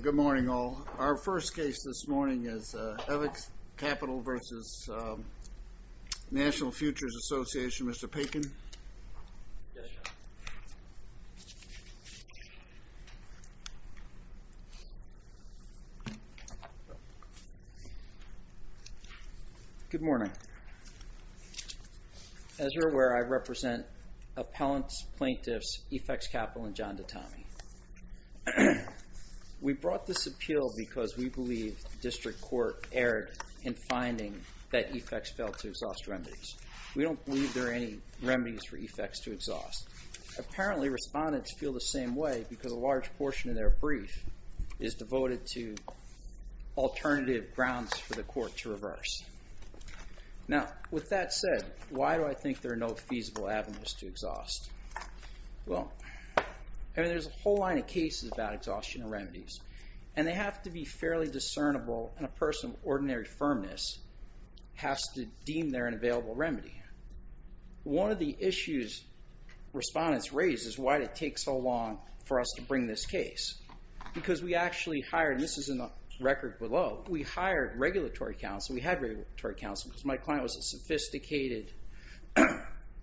Good morning all. Our first case this morning is Evex Capital v. National Futures Association. Mr. Bacon. Good morning. As you're aware, I represent appellants, plaintiffs, Efex Capital, and John Dottami. We brought this appeal because we believe district court erred in finding that Efex failed to exhaust remedies. We don't believe there are any remedies for Efex to exhaust. Apparently, respondents feel the same way because a large portion of their brief is devoted to alternative grounds for the court to reverse. Now, with that said, why do I think there are no feasible avenues to exhaust? Well, there's a whole line of cases about exhaustion of remedies. And they have to be fairly discernible, and a person of ordinary firmness has to deem there an available remedy. One of the issues respondents raise is why did it take so long for us to bring this case? Because we actually hired, and this is in the record below, we hired regulatory counsel, we had regulatory counsel, because my client was a sophisticated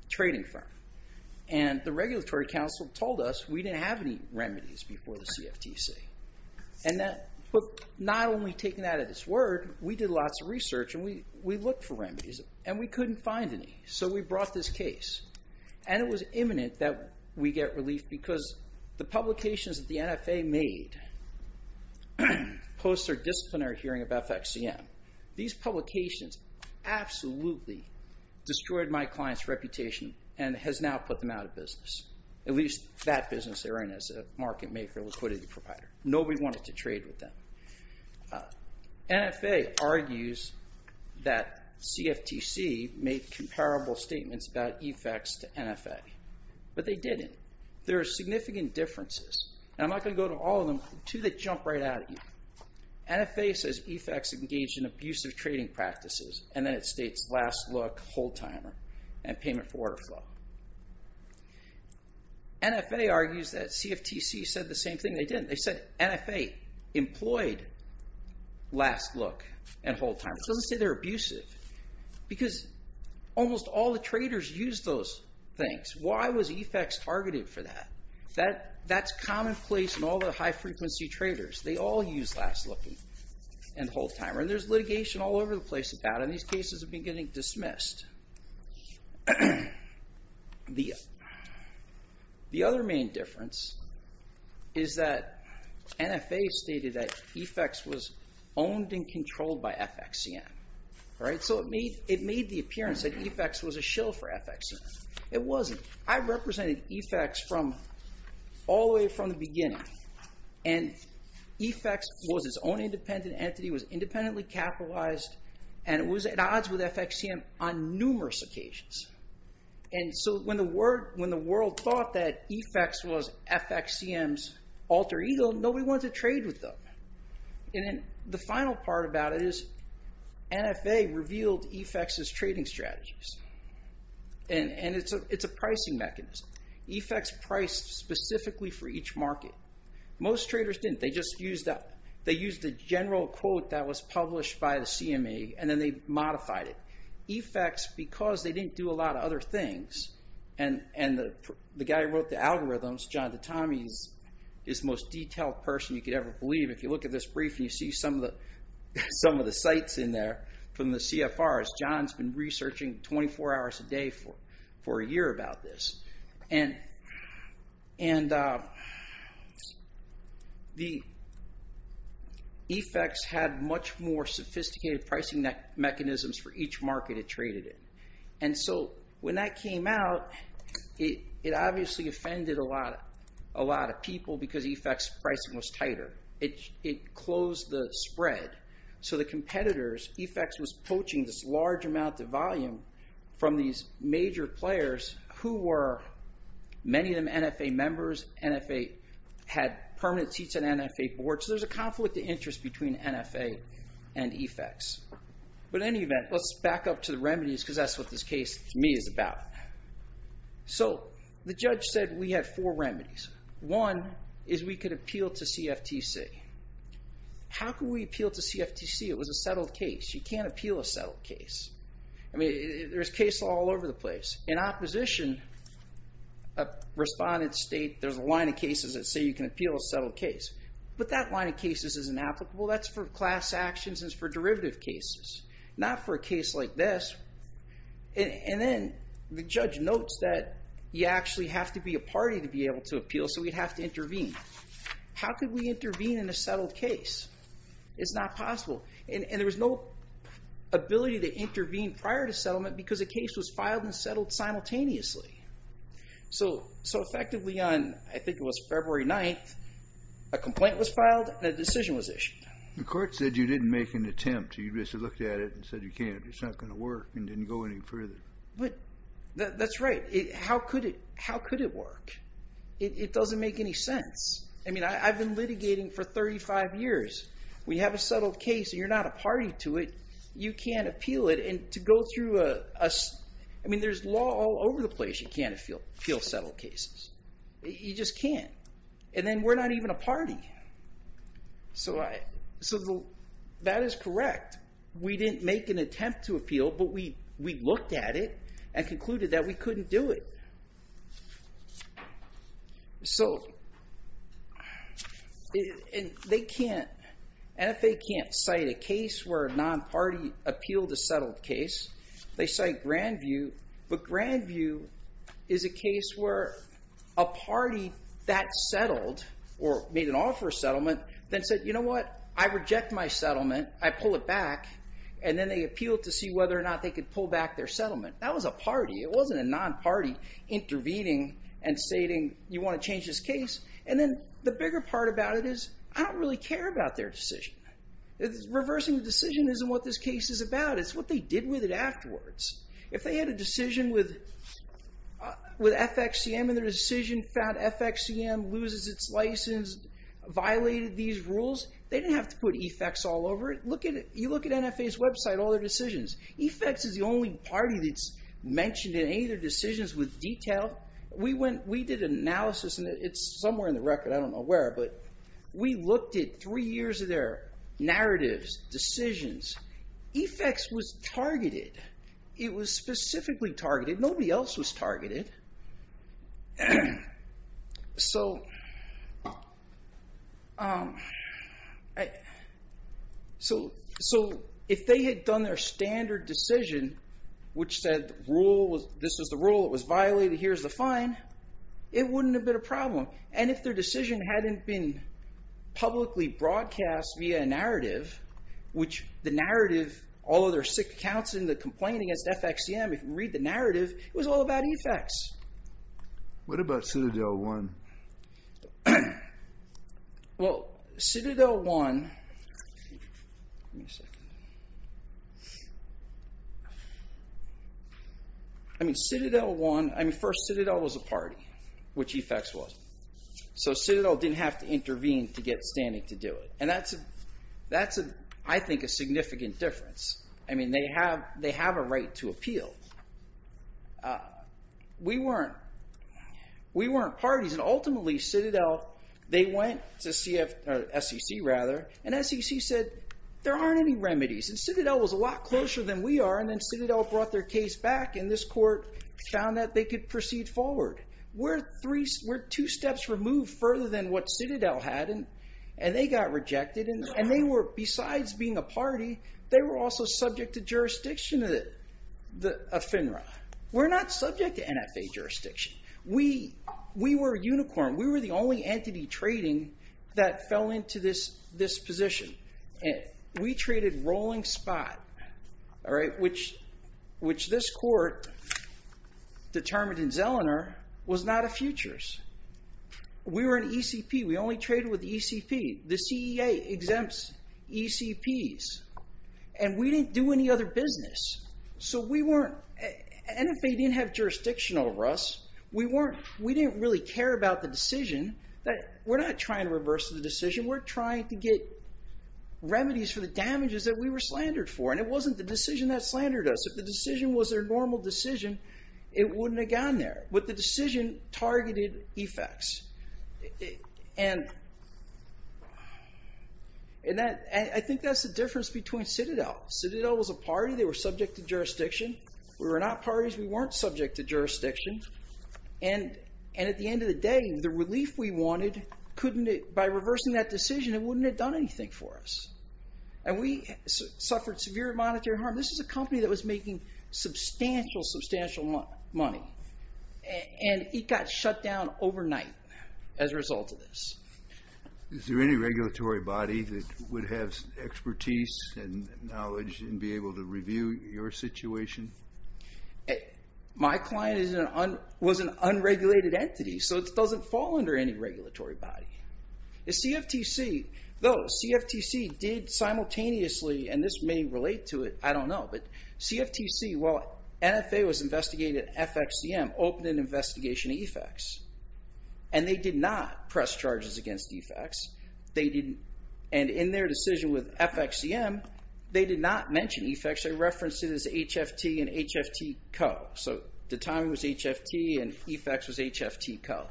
trading firm. And the regulatory counsel told us we didn't have any remedies before the CFTC. But not only taking that at its word, we did lots of research, and we looked for remedies, and we couldn't find any. So we brought this case. And it was imminent that we get relief because the publications that the NFA made post their disciplinary hearing of FXCM, these publications absolutely destroyed my client's reputation and has now put them out of business. At least that business they're in is a market made for a liquidity provider. Nobody wanted to trade with them. NFA argues that CFTC made comparable statements about EFEX to NFA. But they didn't. There are significant differences. And I'm not going to go to all of them, two that jump right out at you. NFA says EFEX engaged in abusive trading practices. And then it states last look, hold timer, and payment for order flow. NFA argues that CFTC said the same thing. They didn't. They said NFA employed last look and hold timer. It doesn't say they're abusive. Because almost all the traders used those things. Why was EFEX targeted for that? That's commonplace in all the high frequency traders. They all use last look and hold timer. And there's litigation all over the place about it. And these cases have been getting dismissed. The other main difference is that NFA stated that EFEX was owned and controlled by FXCM. So it made the appearance that EFEX was a shill for FXCM. It wasn't. I represented EFEX from all the way from the beginning. And EFEX was its own independent entity. It was independently capitalized. And it was at odds with FXCM on numerous occasions. And so when the world thought that EFEX was FXCM's alter ego, nobody wanted to trade with them. And then the final part about it is NFA revealed EFEX's trading strategies. And it's a pricing mechanism. EFEX priced specifically for each market. Most traders didn't. They used the general quote that was published by the CMA, and then they modified it. EFEX, because they didn't do a lot of other things, and the guy who wrote the algorithms, John Dottami, is the most detailed person you could ever believe. If you look at this brief and you see some of the sites in there from the CFRs, John's been researching 24 hours a day for a year about this. And EFEX had much more sophisticated pricing mechanisms for each market it traded in. And so when that came out, it obviously offended a lot of people because EFEX's pricing was tighter. It closed the spread. So the competitors, EFEX was poaching this large amount of volume from these major players who were many of them NFA members. NFA had permanent seats on NFA boards. So there's a conflict of interest between NFA and EFEX. But in any event, let's back up to the remedies because that's what this case to me is about. So the judge said we had four remedies. One is we could appeal to CFTC. How could we appeal to CFTC? It was a settled case. You can't appeal a settled case. I mean, there's cases all over the place. In opposition, respondents state there's a line of cases that say you can appeal a settled case. But that line of cases isn't applicable. That's for class actions and it's for derivative cases, not for a case like this. And then the judge notes that you actually have to be a party to be able to appeal, so we'd have to intervene. How could we intervene in a settled case? It's not possible. And there was no ability to intervene prior to settlement because the case was filed and settled simultaneously. So effectively on, I think it was February 9th, a complaint was filed and a decision was issued. The court said you didn't make an attempt. You just looked at it and said you can't. It's not going to work and didn't go any further. That's right. How could it work? It doesn't make any sense. I mean, I've been litigating for 35 years. When you have a settled case and you're not a party to it, you can't appeal it. And to go through a... I mean, there's law all over the place. You can't appeal settled cases. You just can't. And then we're not even a party. So that is correct. We didn't make an attempt to appeal, but we looked at it and concluded that we couldn't do it. So they can't... NFA can't cite a case where a non-party appealed a settled case. They cite Grandview, but Grandview is a case where a party that settled or made an offer of settlement then said, you know what, I reject my settlement. I pull it back. And then they appealed to see whether or not they could pull back their settlement. That was a party. It wasn't a non-party intervening and stating, you want to change this case? And then the bigger part about it is, I don't really care about their decision. Reversing the decision isn't what this case is about. It's what they did with it afterwards. If they had a decision with FXCM and their decision found FXCM loses its license, violated these rules, they didn't have to put EFEX all over it. You look at NFA's website, all their decisions. EFEX is the only party that's mentioned in any of their decisions with detail. We did an analysis, and it's somewhere in the record, I don't know where, but we looked at three years of their narratives, decisions. EFEX was targeted. It was specifically targeted. Nobody else was targeted. So... So if they had done their standard decision, which said this is the rule, it was violated, here's the fine, it wouldn't have been a problem. And if their decision hadn't been publicly broadcast via a narrative, which the narrative, all of their sick accounts and the complaint against FXCM, if you read the narrative, it was all about EFEX. What about Citadel 1? Well, Citadel 1... I mean, Citadel 1... I mean, first, Citadel was a party, which EFEX was. So Citadel didn't have to intervene to get standing to do it. And that's, I think, a significant difference. I mean, they have a right to appeal. We weren't... We weren't parties, and ultimately, Citadel, they went to SEC, rather, and SEC said, there aren't any remedies, and Citadel was a lot closer than we are, and then Citadel brought their case back, and this court found that they could proceed forward. We're two steps removed further than what Citadel had, and they got rejected, and they were, besides being a party, they were also subject to jurisdiction of FINRA. We're not subject to NFA jurisdiction. We were a unicorn. We were the only entity trading that fell into this position. We traded Rolling Spot, which this court determined in Zellner was not a futures. We were an ECP. We only traded with the ECP. The CEA exempts ECPs, and we didn't do any other business. So we weren't... NFA didn't have jurisdiction over us. We didn't really care about the decision. We're not trying to reverse the decision. We're trying to get remedies for the damages that we were slandered for, and it wasn't the decision that slandered us. If the decision was their normal decision, it wouldn't have gone there, but the decision targeted effects. And I think that's the difference between Citadel. Citadel was a party. They were subject to jurisdiction. We were not parties. We weren't subject to jurisdiction, and at the end of the day, the relief we wanted, by reversing that decision, it wouldn't have done anything for us, and we suffered severe monetary harm. This is a company that was making substantial, substantial money, and it got shut down overnight as a result of this. Is there any regulatory body that would have expertise and knowledge and be able to review your situation? My client was an unregulated entity, so it doesn't fall under any regulatory body. The CFTC, though, CFTC did simultaneously, and this may relate to it, I don't know, but CFTC, while NFA was investigating FXCM, opened an investigation to EFEX, and they did not press charges against EFEX. They didn't, and in their decision with FXCM, they did not mention EFEX. They referenced it as HFT and HFT Co. So the timing was HFT, and EFEX was HFT Co.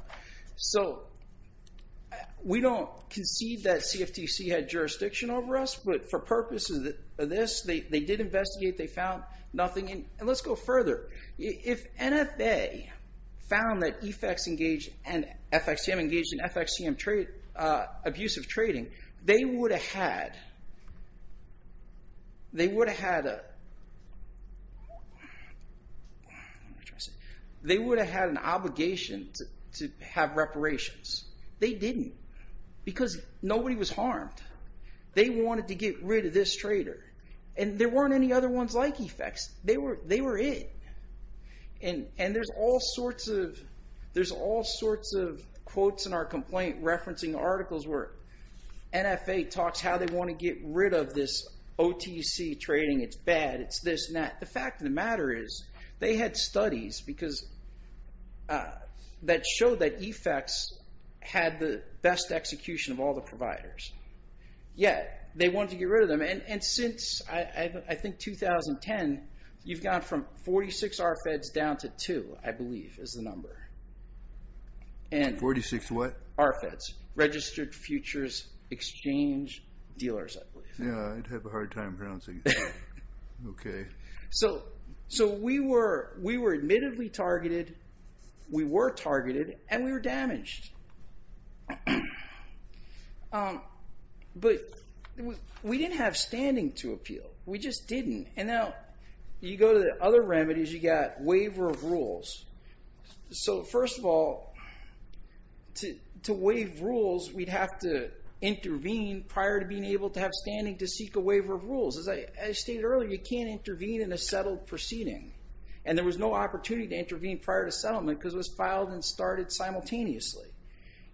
So we don't concede that CFTC had jurisdiction over us, but for purposes of this, they did investigate, they found nothing, and let's go further. If NFA found that EFEX engaged, and FXCM engaged in FXCM abuse of trading, they would have had... They would have had a... They would have had an obligation to have reparations. They didn't, because nobody was harmed. They wanted to get rid of this trader, and there weren't any other ones like EFEX. They were it. And there's all sorts of quotes in our complaint referencing articles where NFA talks how they want to get rid of this OTC trading, it's bad, it's this and that. The fact of the matter is, they had studies that showed that EFEX had the best execution of all the providers, yet they wanted to get rid of them, and since, I think, 2010, you've gone from 46 RFEDs down to two, I believe, is the number. 46 what? RFEDs, Registered Futures Exchange Dealers, I believe. Yeah, I have a hard time pronouncing it. Okay. So we were admittedly targeted, we were targeted, and we were damaged. But we didn't have standing to appeal. We just didn't. And now, you go to the other remedies, you've got waiver of rules. So first of all, to waive rules, we'd have to intervene prior to being able to have standing to seek a waiver of rules. As I stated earlier, you can't intervene in a settled proceeding, and there was no opportunity to intervene prior to settlement because it was filed and started simultaneously.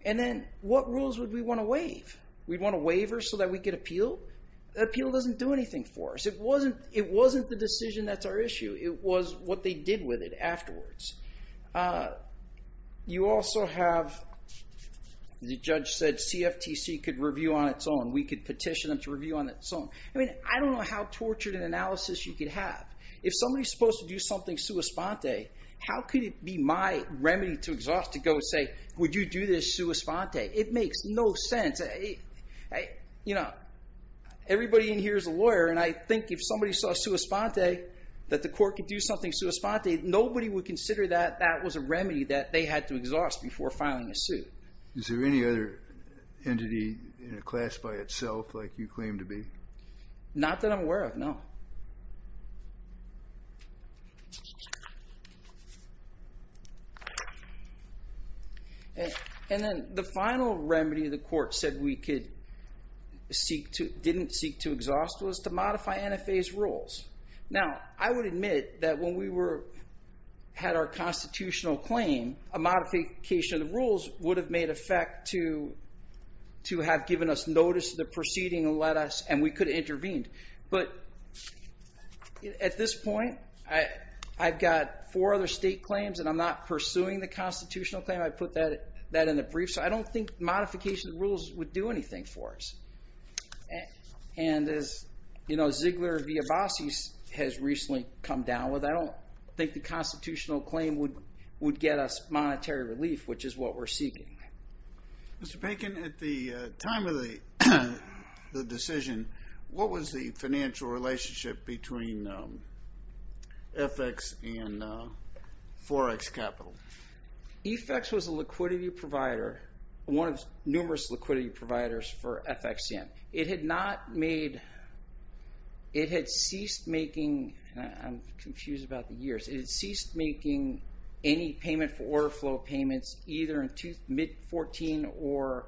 And then, what rules would we want to waive? We'd want a waiver so that we could appeal? Appeal doesn't do anything for us. It wasn't the decision that's our issue. It was what they did with it afterwards. You also have, the judge said, CFTC could review on its own. We could petition them to review on its own. I mean, I don't know how tortured an analysis you could have. If somebody's supposed to do something sua sponte, how could it be my remedy to exhaust to go and say, would you do this sua sponte? It makes no sense. Everybody in here is a lawyer, and I think if somebody saw sua sponte, that the court could do something sua sponte, nobody would consider that that was a remedy that they had to exhaust before filing a suit. Is there any other entity in a class by itself like you claim to be? Not that I'm aware of, no. And then the final remedy the court said we could seek to, didn't seek to exhaust was to modify NFA's rules. Now, I would admit that when we had our constitutional claim, a modification of the rules would have made effect to have given us notice of the proceeding and we could have intervened. But at this point, I've got four other state claims, and I'm not pursuing the constitutional claim. I put that in the brief, so I don't think modification of the rules would do anything for us. And as Ziegler-Villabasi has recently come down with, I don't think the constitutional claim would get us monetary relief, which is what we're seeking. Mr. Bacon, at the time of the decision, what was the financial relationship between FX and Forex Capital? EFEX was a liquidity provider, one of numerous liquidity providers for FXCM. It had not made, it had ceased making, I'm confused about the years, it had ceased making any payment for order flow payments either in mid-14 or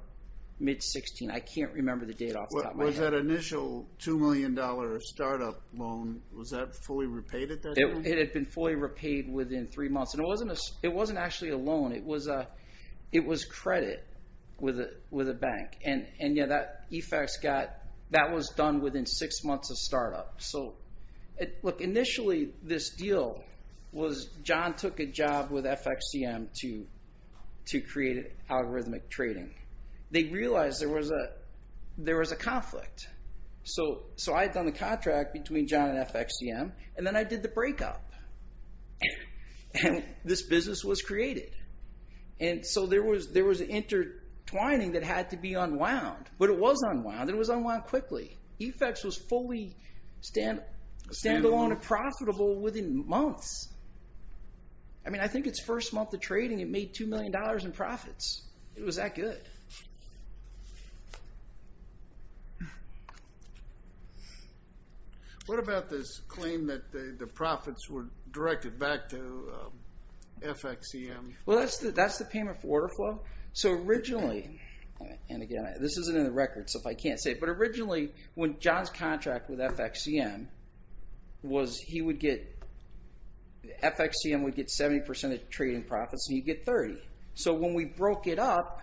mid-16. I can't remember the date off the top of my head. Was that initial $2 million startup loan, was that fully repaid at that time? It had been fully repaid within three months. And it wasn't actually a loan, it was credit with a bank. And yeah, that EFEX got, that was done within six months of startup. So look, initially this deal was, John took a job with FXCM to create algorithmic trading. They realized there was a conflict. So I had done the contract between John and FXCM, and then I did the breakup. And this business was created. And so there was intertwining that had to be unwound. But it was unwound, it was unwound quickly. EFEX was fully stand-alone and profitable within months. I mean, I think its first month of trading, it made $2 million in profits. It was that good. What about this claim that the profits were directed back to FXCM? Well, that's the payment for order flow. So originally, and again, this isn't in the record, so I can't say it, but originally when John's contract with FXCM was, he would get, FXCM would get 70% of trading profits, and he'd get 30. So when we broke it up,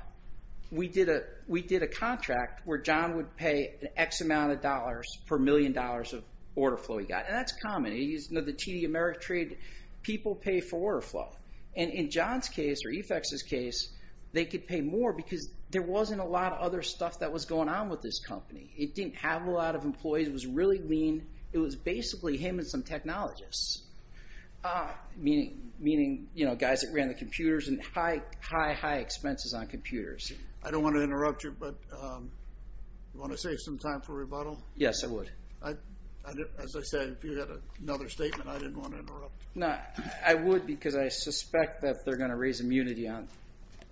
we did a contract where John would pay X amount of dollars per million dollars of order flow he got. And that's common. The TD Ameritrade people pay for order flow. And in John's case, or EFEX's case, they could pay more because there wasn't a lot of other stuff that was going on with this company. It didn't have a lot of employees. It was really lean. It was basically him and some technologists, meaning guys that ran the computers and high, high, high expenses on computers. I don't want to interrupt you, but you want to save some time for rebuttal? Yes, I would. As I said, if you had another statement, I didn't want to interrupt. No, I would because I suspect that they're going to raise immunity on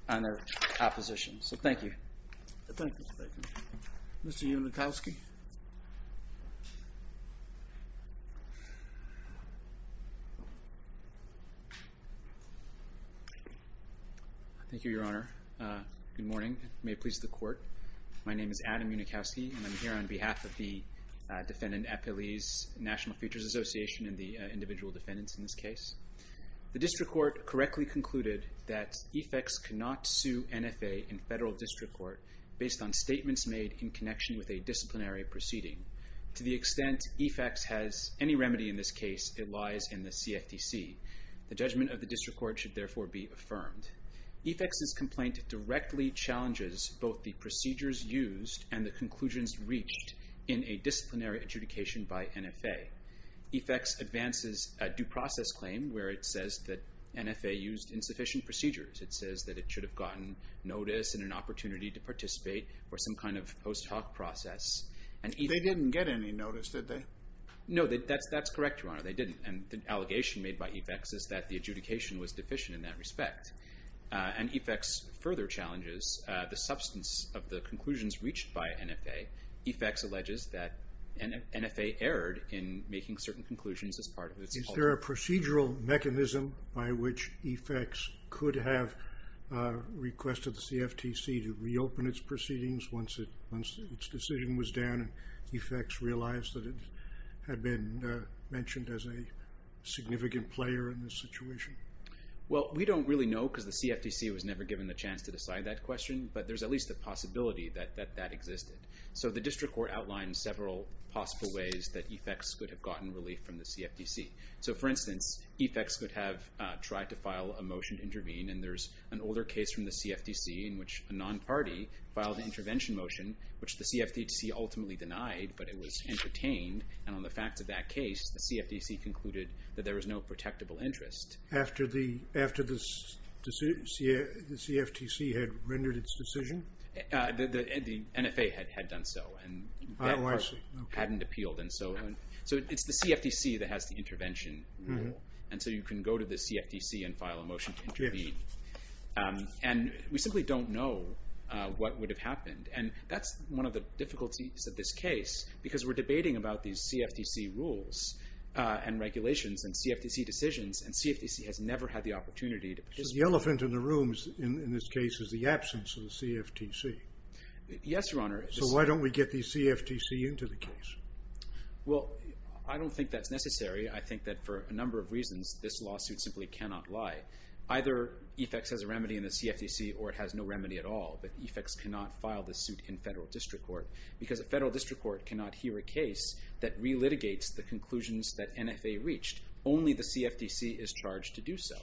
their opposition. So thank you. Thank you. Mr. Unikowsky. Thank you, Your Honor. Good morning. May it please the Court. My name is Adam Unikowsky, and I'm here on behalf of the defendant, Apeliz National Futures Association, and the individual defendants in this case. The district court correctly concluded that EFEX cannot sue NFA in federal district court based on statements made in connection with a disciplinary proceeding. To the extent EFEX has any remedy in this case, it lies in the CFTC. The judgment of the district court should therefore be affirmed. EFEX's complaint directly challenges both the procedures used and the conclusions reached in a disciplinary adjudication by NFA. EFEX advances a due process claim where it says that NFA used insufficient procedures. It says that it should have gotten notice and an opportunity to participate or some kind of post-talk process. They didn't get any notice, did they? No, that's correct, Your Honor, they didn't. And the allegation made by EFEX is that the adjudication was deficient in that respect. And EFEX further challenges the substance of the conclusions reached by NFA. EFEX alleges that NFA erred in making certain conclusions as part of its... Is there a procedural mechanism by which EFEX could have requested the CFTC to reopen its proceedings once its decision was down and EFEX realized that it had been mentioned as a significant player in the situation? Well, we don't really know because the CFTC was never given the chance to decide that question, but there's at least a possibility that that existed. So the district court outlined several possible ways that EFEX could have gotten relief from the CFTC. So, for instance, EFEX could have tried to file a motion to intervene and there's an older case from the CFTC in which a non-party filed an intervention motion which the CFTC ultimately denied, but it was entertained. And on the facts of that case, the CFTC concluded that there was no protectable interest. After the CFTC had rendered its decision? The NFA had done so. Oh, I see. And that part hadn't appealed. So it's the CFTC that has the intervention. And so you can go to the CFTC and file a motion to intervene. And we simply don't know what would have happened. And that's one of the difficulties of this case because we're debating about these CFTC rules and regulations and CFTC decisions, and CFTC has never had the opportunity to participate. So the elephant in the room in this case is the absence of the CFTC. Yes, Your Honor. So why don't we get the CFTC into the case? Well, I don't think that's necessary. I think that for a number of reasons, this lawsuit simply cannot lie. Either EFEX has a remedy in the CFTC or it has no remedy at all, but EFEX cannot file the suit in federal district court because a federal district court cannot hear a case that relitigates the conclusions that NFA reached. Only the CFTC is charged to do so.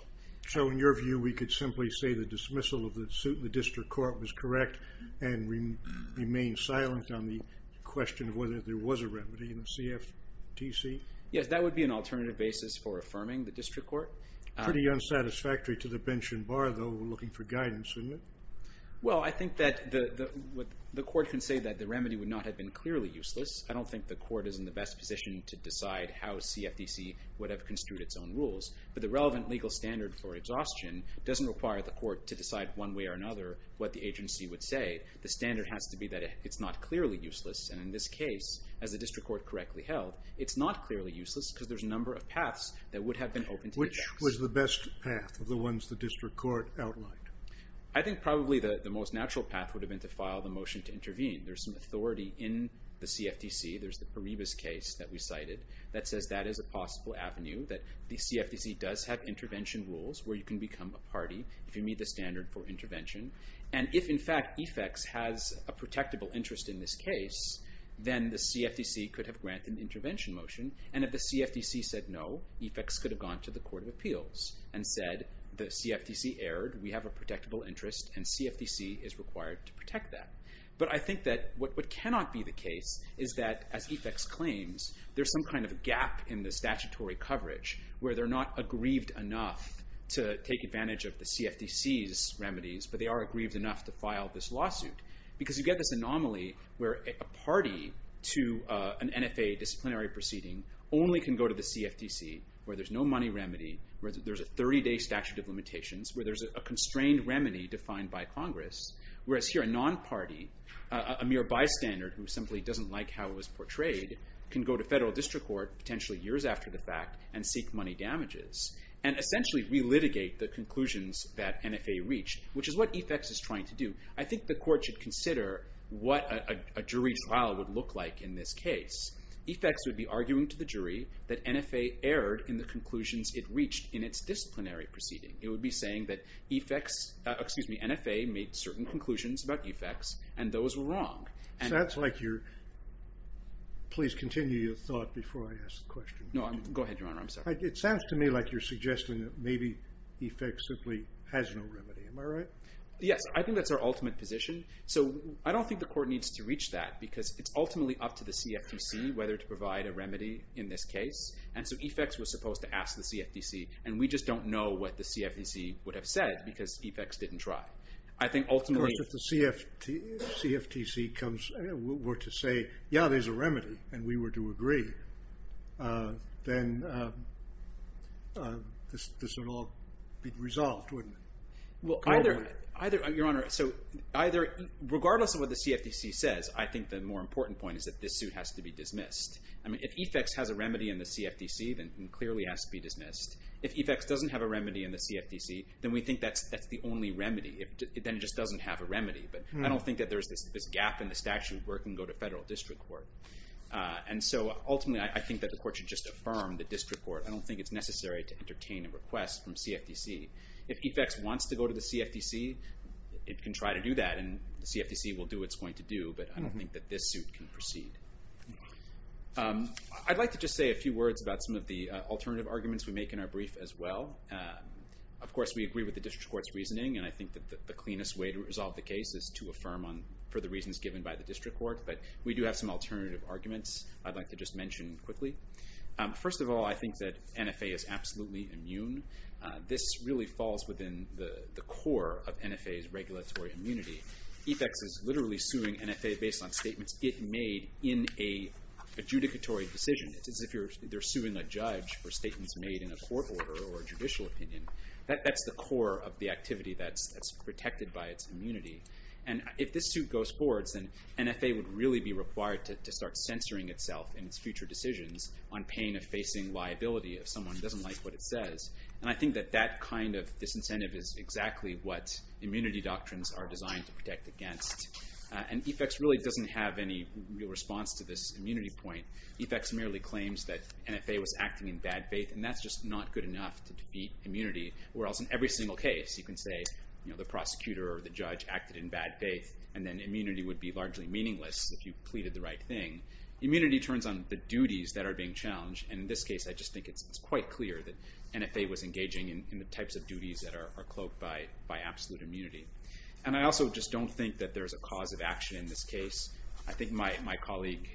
So in your view, we could simply say the dismissal of the suit if the court was correct and remained silent on the question of whether there was a remedy in the CFTC? Yes, that would be an alternative basis for affirming the district court. Pretty unsatisfactory to the bench and bar, though, looking for guidance, isn't it? Well, I think that the court can say that the remedy would not have been clearly useless. I don't think the court is in the best position to decide how CFTC would have construed its own rules. But the relevant legal standard for exhaustion doesn't require the court to decide one way or another what the agency would say. The standard has to be that it's not clearly useless. And in this case, as the district court correctly held, it's not clearly useless because there's a number of paths that would have been open to EFEX. Which was the best path of the ones the district court outlined? I think probably the most natural path would have been to file the motion to intervene. There's some authority in the CFTC. There's the Paribas case that we cited that says that is a possible avenue, that the CFTC does have intervention rules where you can become a party if you meet the standard for intervention. And if, in fact, EFEX has a protectable interest in this case, then the CFTC could have granted an intervention motion. And if the CFTC said no, EFEX could have gone to the Court of Appeals and said the CFTC erred, we have a protectable interest, and CFTC is required to protect that. But I think that what cannot be the case is that, as EFEX claims, there's some kind of gap in the statutory coverage where they're not aggrieved enough to take advantage of the CFTC's remedies, but they are aggrieved enough to file this lawsuit. Because you get this anomaly where a party to an NFA disciplinary proceeding only can go to the CFTC where there's no money remedy, where there's a 30-day statute of limitations, where there's a constrained remedy defined by Congress, whereas here a non-party, a mere bystander who simply doesn't like how it was portrayed, can go to federal district court, potentially years after the fact, and seek money damages, and essentially relitigate the conclusions that NFA reached, which is what EFEX is trying to do. I think the Court should consider what a jury trial would look like in this case. EFEX would be arguing to the jury that NFA erred in the conclusions it reached in its disciplinary proceeding. It would be saying that EFEX... excuse me, NFA made certain conclusions about EFEX, and those were wrong. It sounds like you're... Please continue your thought before I ask the question. No, go ahead, Your Honour. I'm sorry. It sounds to me like you're suggesting that maybe EFEX simply has no remedy. Am I right? Yes, I think that's our ultimate position. So I don't think the Court needs to reach that because it's ultimately up to the CFTC whether to provide a remedy in this case. And so EFEX was supposed to ask the CFTC, and we just don't know what the CFTC would have said because EFEX didn't try. Of course, if the CFTC were to say, yeah, there's a remedy, and we were to agree, then this would all be resolved, wouldn't it? Your Honour, regardless of what the CFTC says, I think the more important point is that this suit has to be dismissed. If EFEX has a remedy in the CFTC, then it clearly has to be dismissed. If EFEX doesn't have a remedy in the CFTC, then we think that's the only remedy. Then it just doesn't have a remedy. But I don't think that there's this gap in the statute where it can go to federal district court. And so ultimately, I think that the Court should just affirm the district court. I don't think it's necessary to entertain a request from CFTC. If EFEX wants to go to the CFTC, it can try to do that, and the CFTC will do what it's going to do, but I don't think that this suit can proceed. I'd like to just say a few words about some of the alternative arguments we make in our brief as well. Of course, we agree with the district court's reasoning, and I think that the cleanest way to resolve the case is to affirm for the reasons given by the district court, but we do have some alternative arguments I'd like to just mention quickly. First of all, I think that NFA is absolutely immune. This really falls within the core of NFA's regulatory immunity. EFEX is literally suing NFA based on statements it made in an adjudicatory decision. It's as if they're suing a judge for statements made in a court order or a judicial opinion. That's the core of the activity that's protected by its immunity, and if this suit goes forward, then NFA would really be required to start censoring itself in its future decisions on pain of facing liability if someone doesn't like what it says, and I think that that kind of disincentive is exactly what immunity doctrines are designed to protect against, and EFEX really doesn't have any real response to this immunity point. EFEX merely claims that NFA was acting in bad faith, and that's just not good enough to defeat immunity, whereas in every single case you can say the prosecutor or the judge acted in bad faith, and then immunity would be largely meaningless if you pleaded the right thing. Immunity turns on the duties that are being challenged, and in this case I just think it's quite clear that NFA was engaging in the types of duties that are cloaked by absolute immunity, and I also just don't think that there's a cause of action in this case. I think my colleague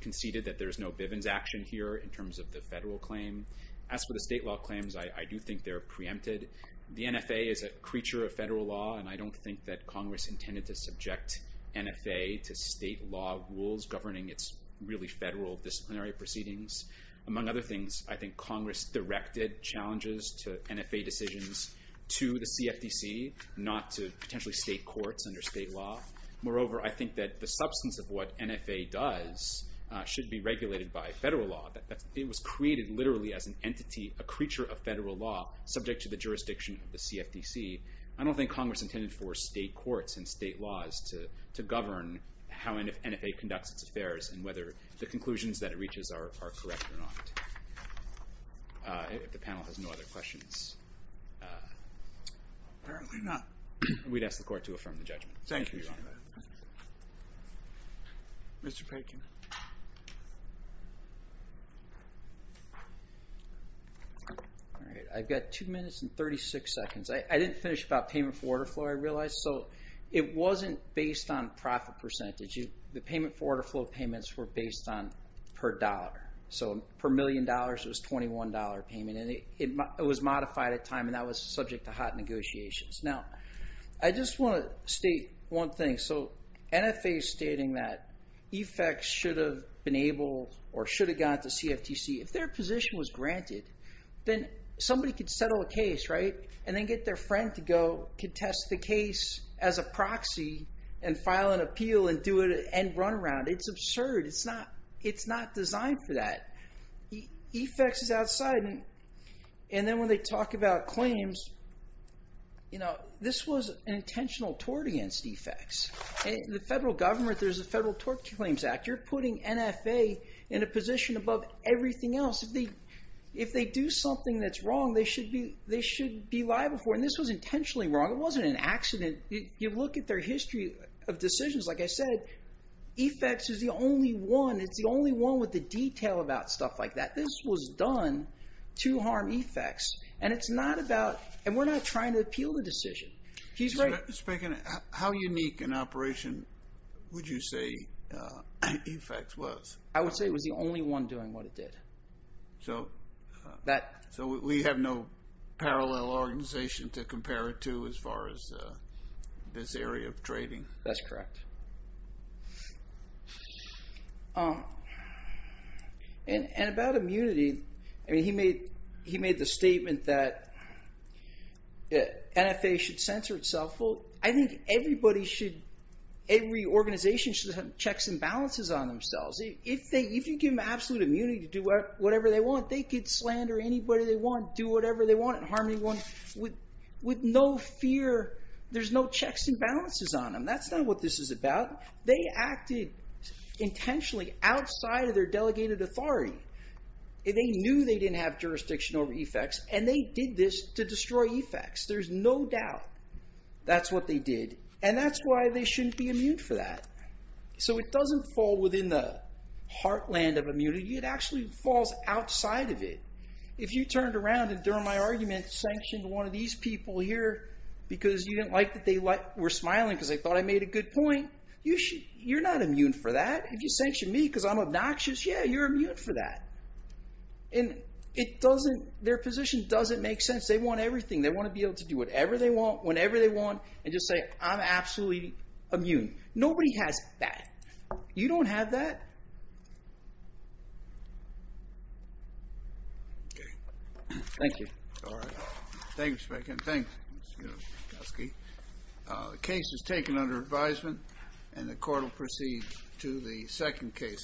conceded that there's no Bivens action here in terms of the federal claim. As for the state law claims, I do think they're preempted. The NFA is a creature of federal law, and I don't think that Congress intended to subject NFA to state law rules governing its really federal disciplinary proceedings. Among other things, I think Congress directed challenges to NFA decisions to the CFTC, not to potentially state courts under state law. Moreover, I think that the substance of what NFA does should be regulated by federal law. It was created literally as an entity, a creature of federal law, subject to the jurisdiction of the CFTC. I don't think Congress intended for state courts and state laws to govern how NFA conducts its affairs and whether the conclusions that it reaches are correct or not. If the panel has no other questions... Apparently not. We'd ask the Court to affirm the judgment. Thank you. Thank you. Mr. Perkins. I've got two minutes and 36 seconds. I didn't finish about payment for order flow, I realize. It wasn't based on profit percentage. The payment for order flow payments were based on per dollar. Per million dollars, it was a $21 payment. It was modified at time, and that was subject to hot negotiations. Now, I just want to state one thing. So NFA is stating that EFEX should have been able or should have gone to CFTC. If their position was granted, then somebody could settle a case, right, and then get their friend to go contest the case as a proxy and file an appeal and run around. It's absurd. It's not designed for that. EFEX is outside. And then when they talk about claims, this was an intentional tort against EFEX. The federal government, there's a Federal Tort Claims Act. You're putting NFA in a position above everything else. If they do something that's wrong, they should be liable for it. And this was intentionally wrong. It wasn't an accident. You look at their history of decisions, like I said, EFEX is the only one. It's the only one with the detail about stuff like that. This was done to harm EFEX. And it's not about, and we're not trying to appeal the decision. He's right. Mr. Bacon, how unique an operation would you say EFEX was? I would say it was the only one doing what it did. So we have no parallel organization to compare it to as far as this area of trading? That's correct. And about immunity, he made the statement that NFA should censor itself. I think everybody should, every organization should have checks and balances on themselves. If you give them absolute immunity to do whatever they want, they could slander anybody they want, do whatever they want, and harm anyone with no fear. There's no checks and balances on them. That's not what this is about. They acted intentionally outside of their delegated authority. They knew they didn't have jurisdiction over EFEX, and they did this to destroy EFEX. There's no doubt that's what they did, and that's why they shouldn't be immune for that. So it doesn't fall within the heartland of immunity. It actually falls outside of it. If you turned around and, during my argument, sanctioned one of these people here because you didn't like that and they were smiling because they thought I made a good point, you're not immune for that. If you sanction me because I'm obnoxious, yeah, you're immune for that. And their position doesn't make sense. They want everything. They want to be able to do whatever they want, whenever they want, and just say, I'm absolutely immune. Nobody has that. You don't have that. Thank you. All right. Thank you, Mr. Bacon. Thanks. The case is taken under advisement, and the court will proceed to the second case.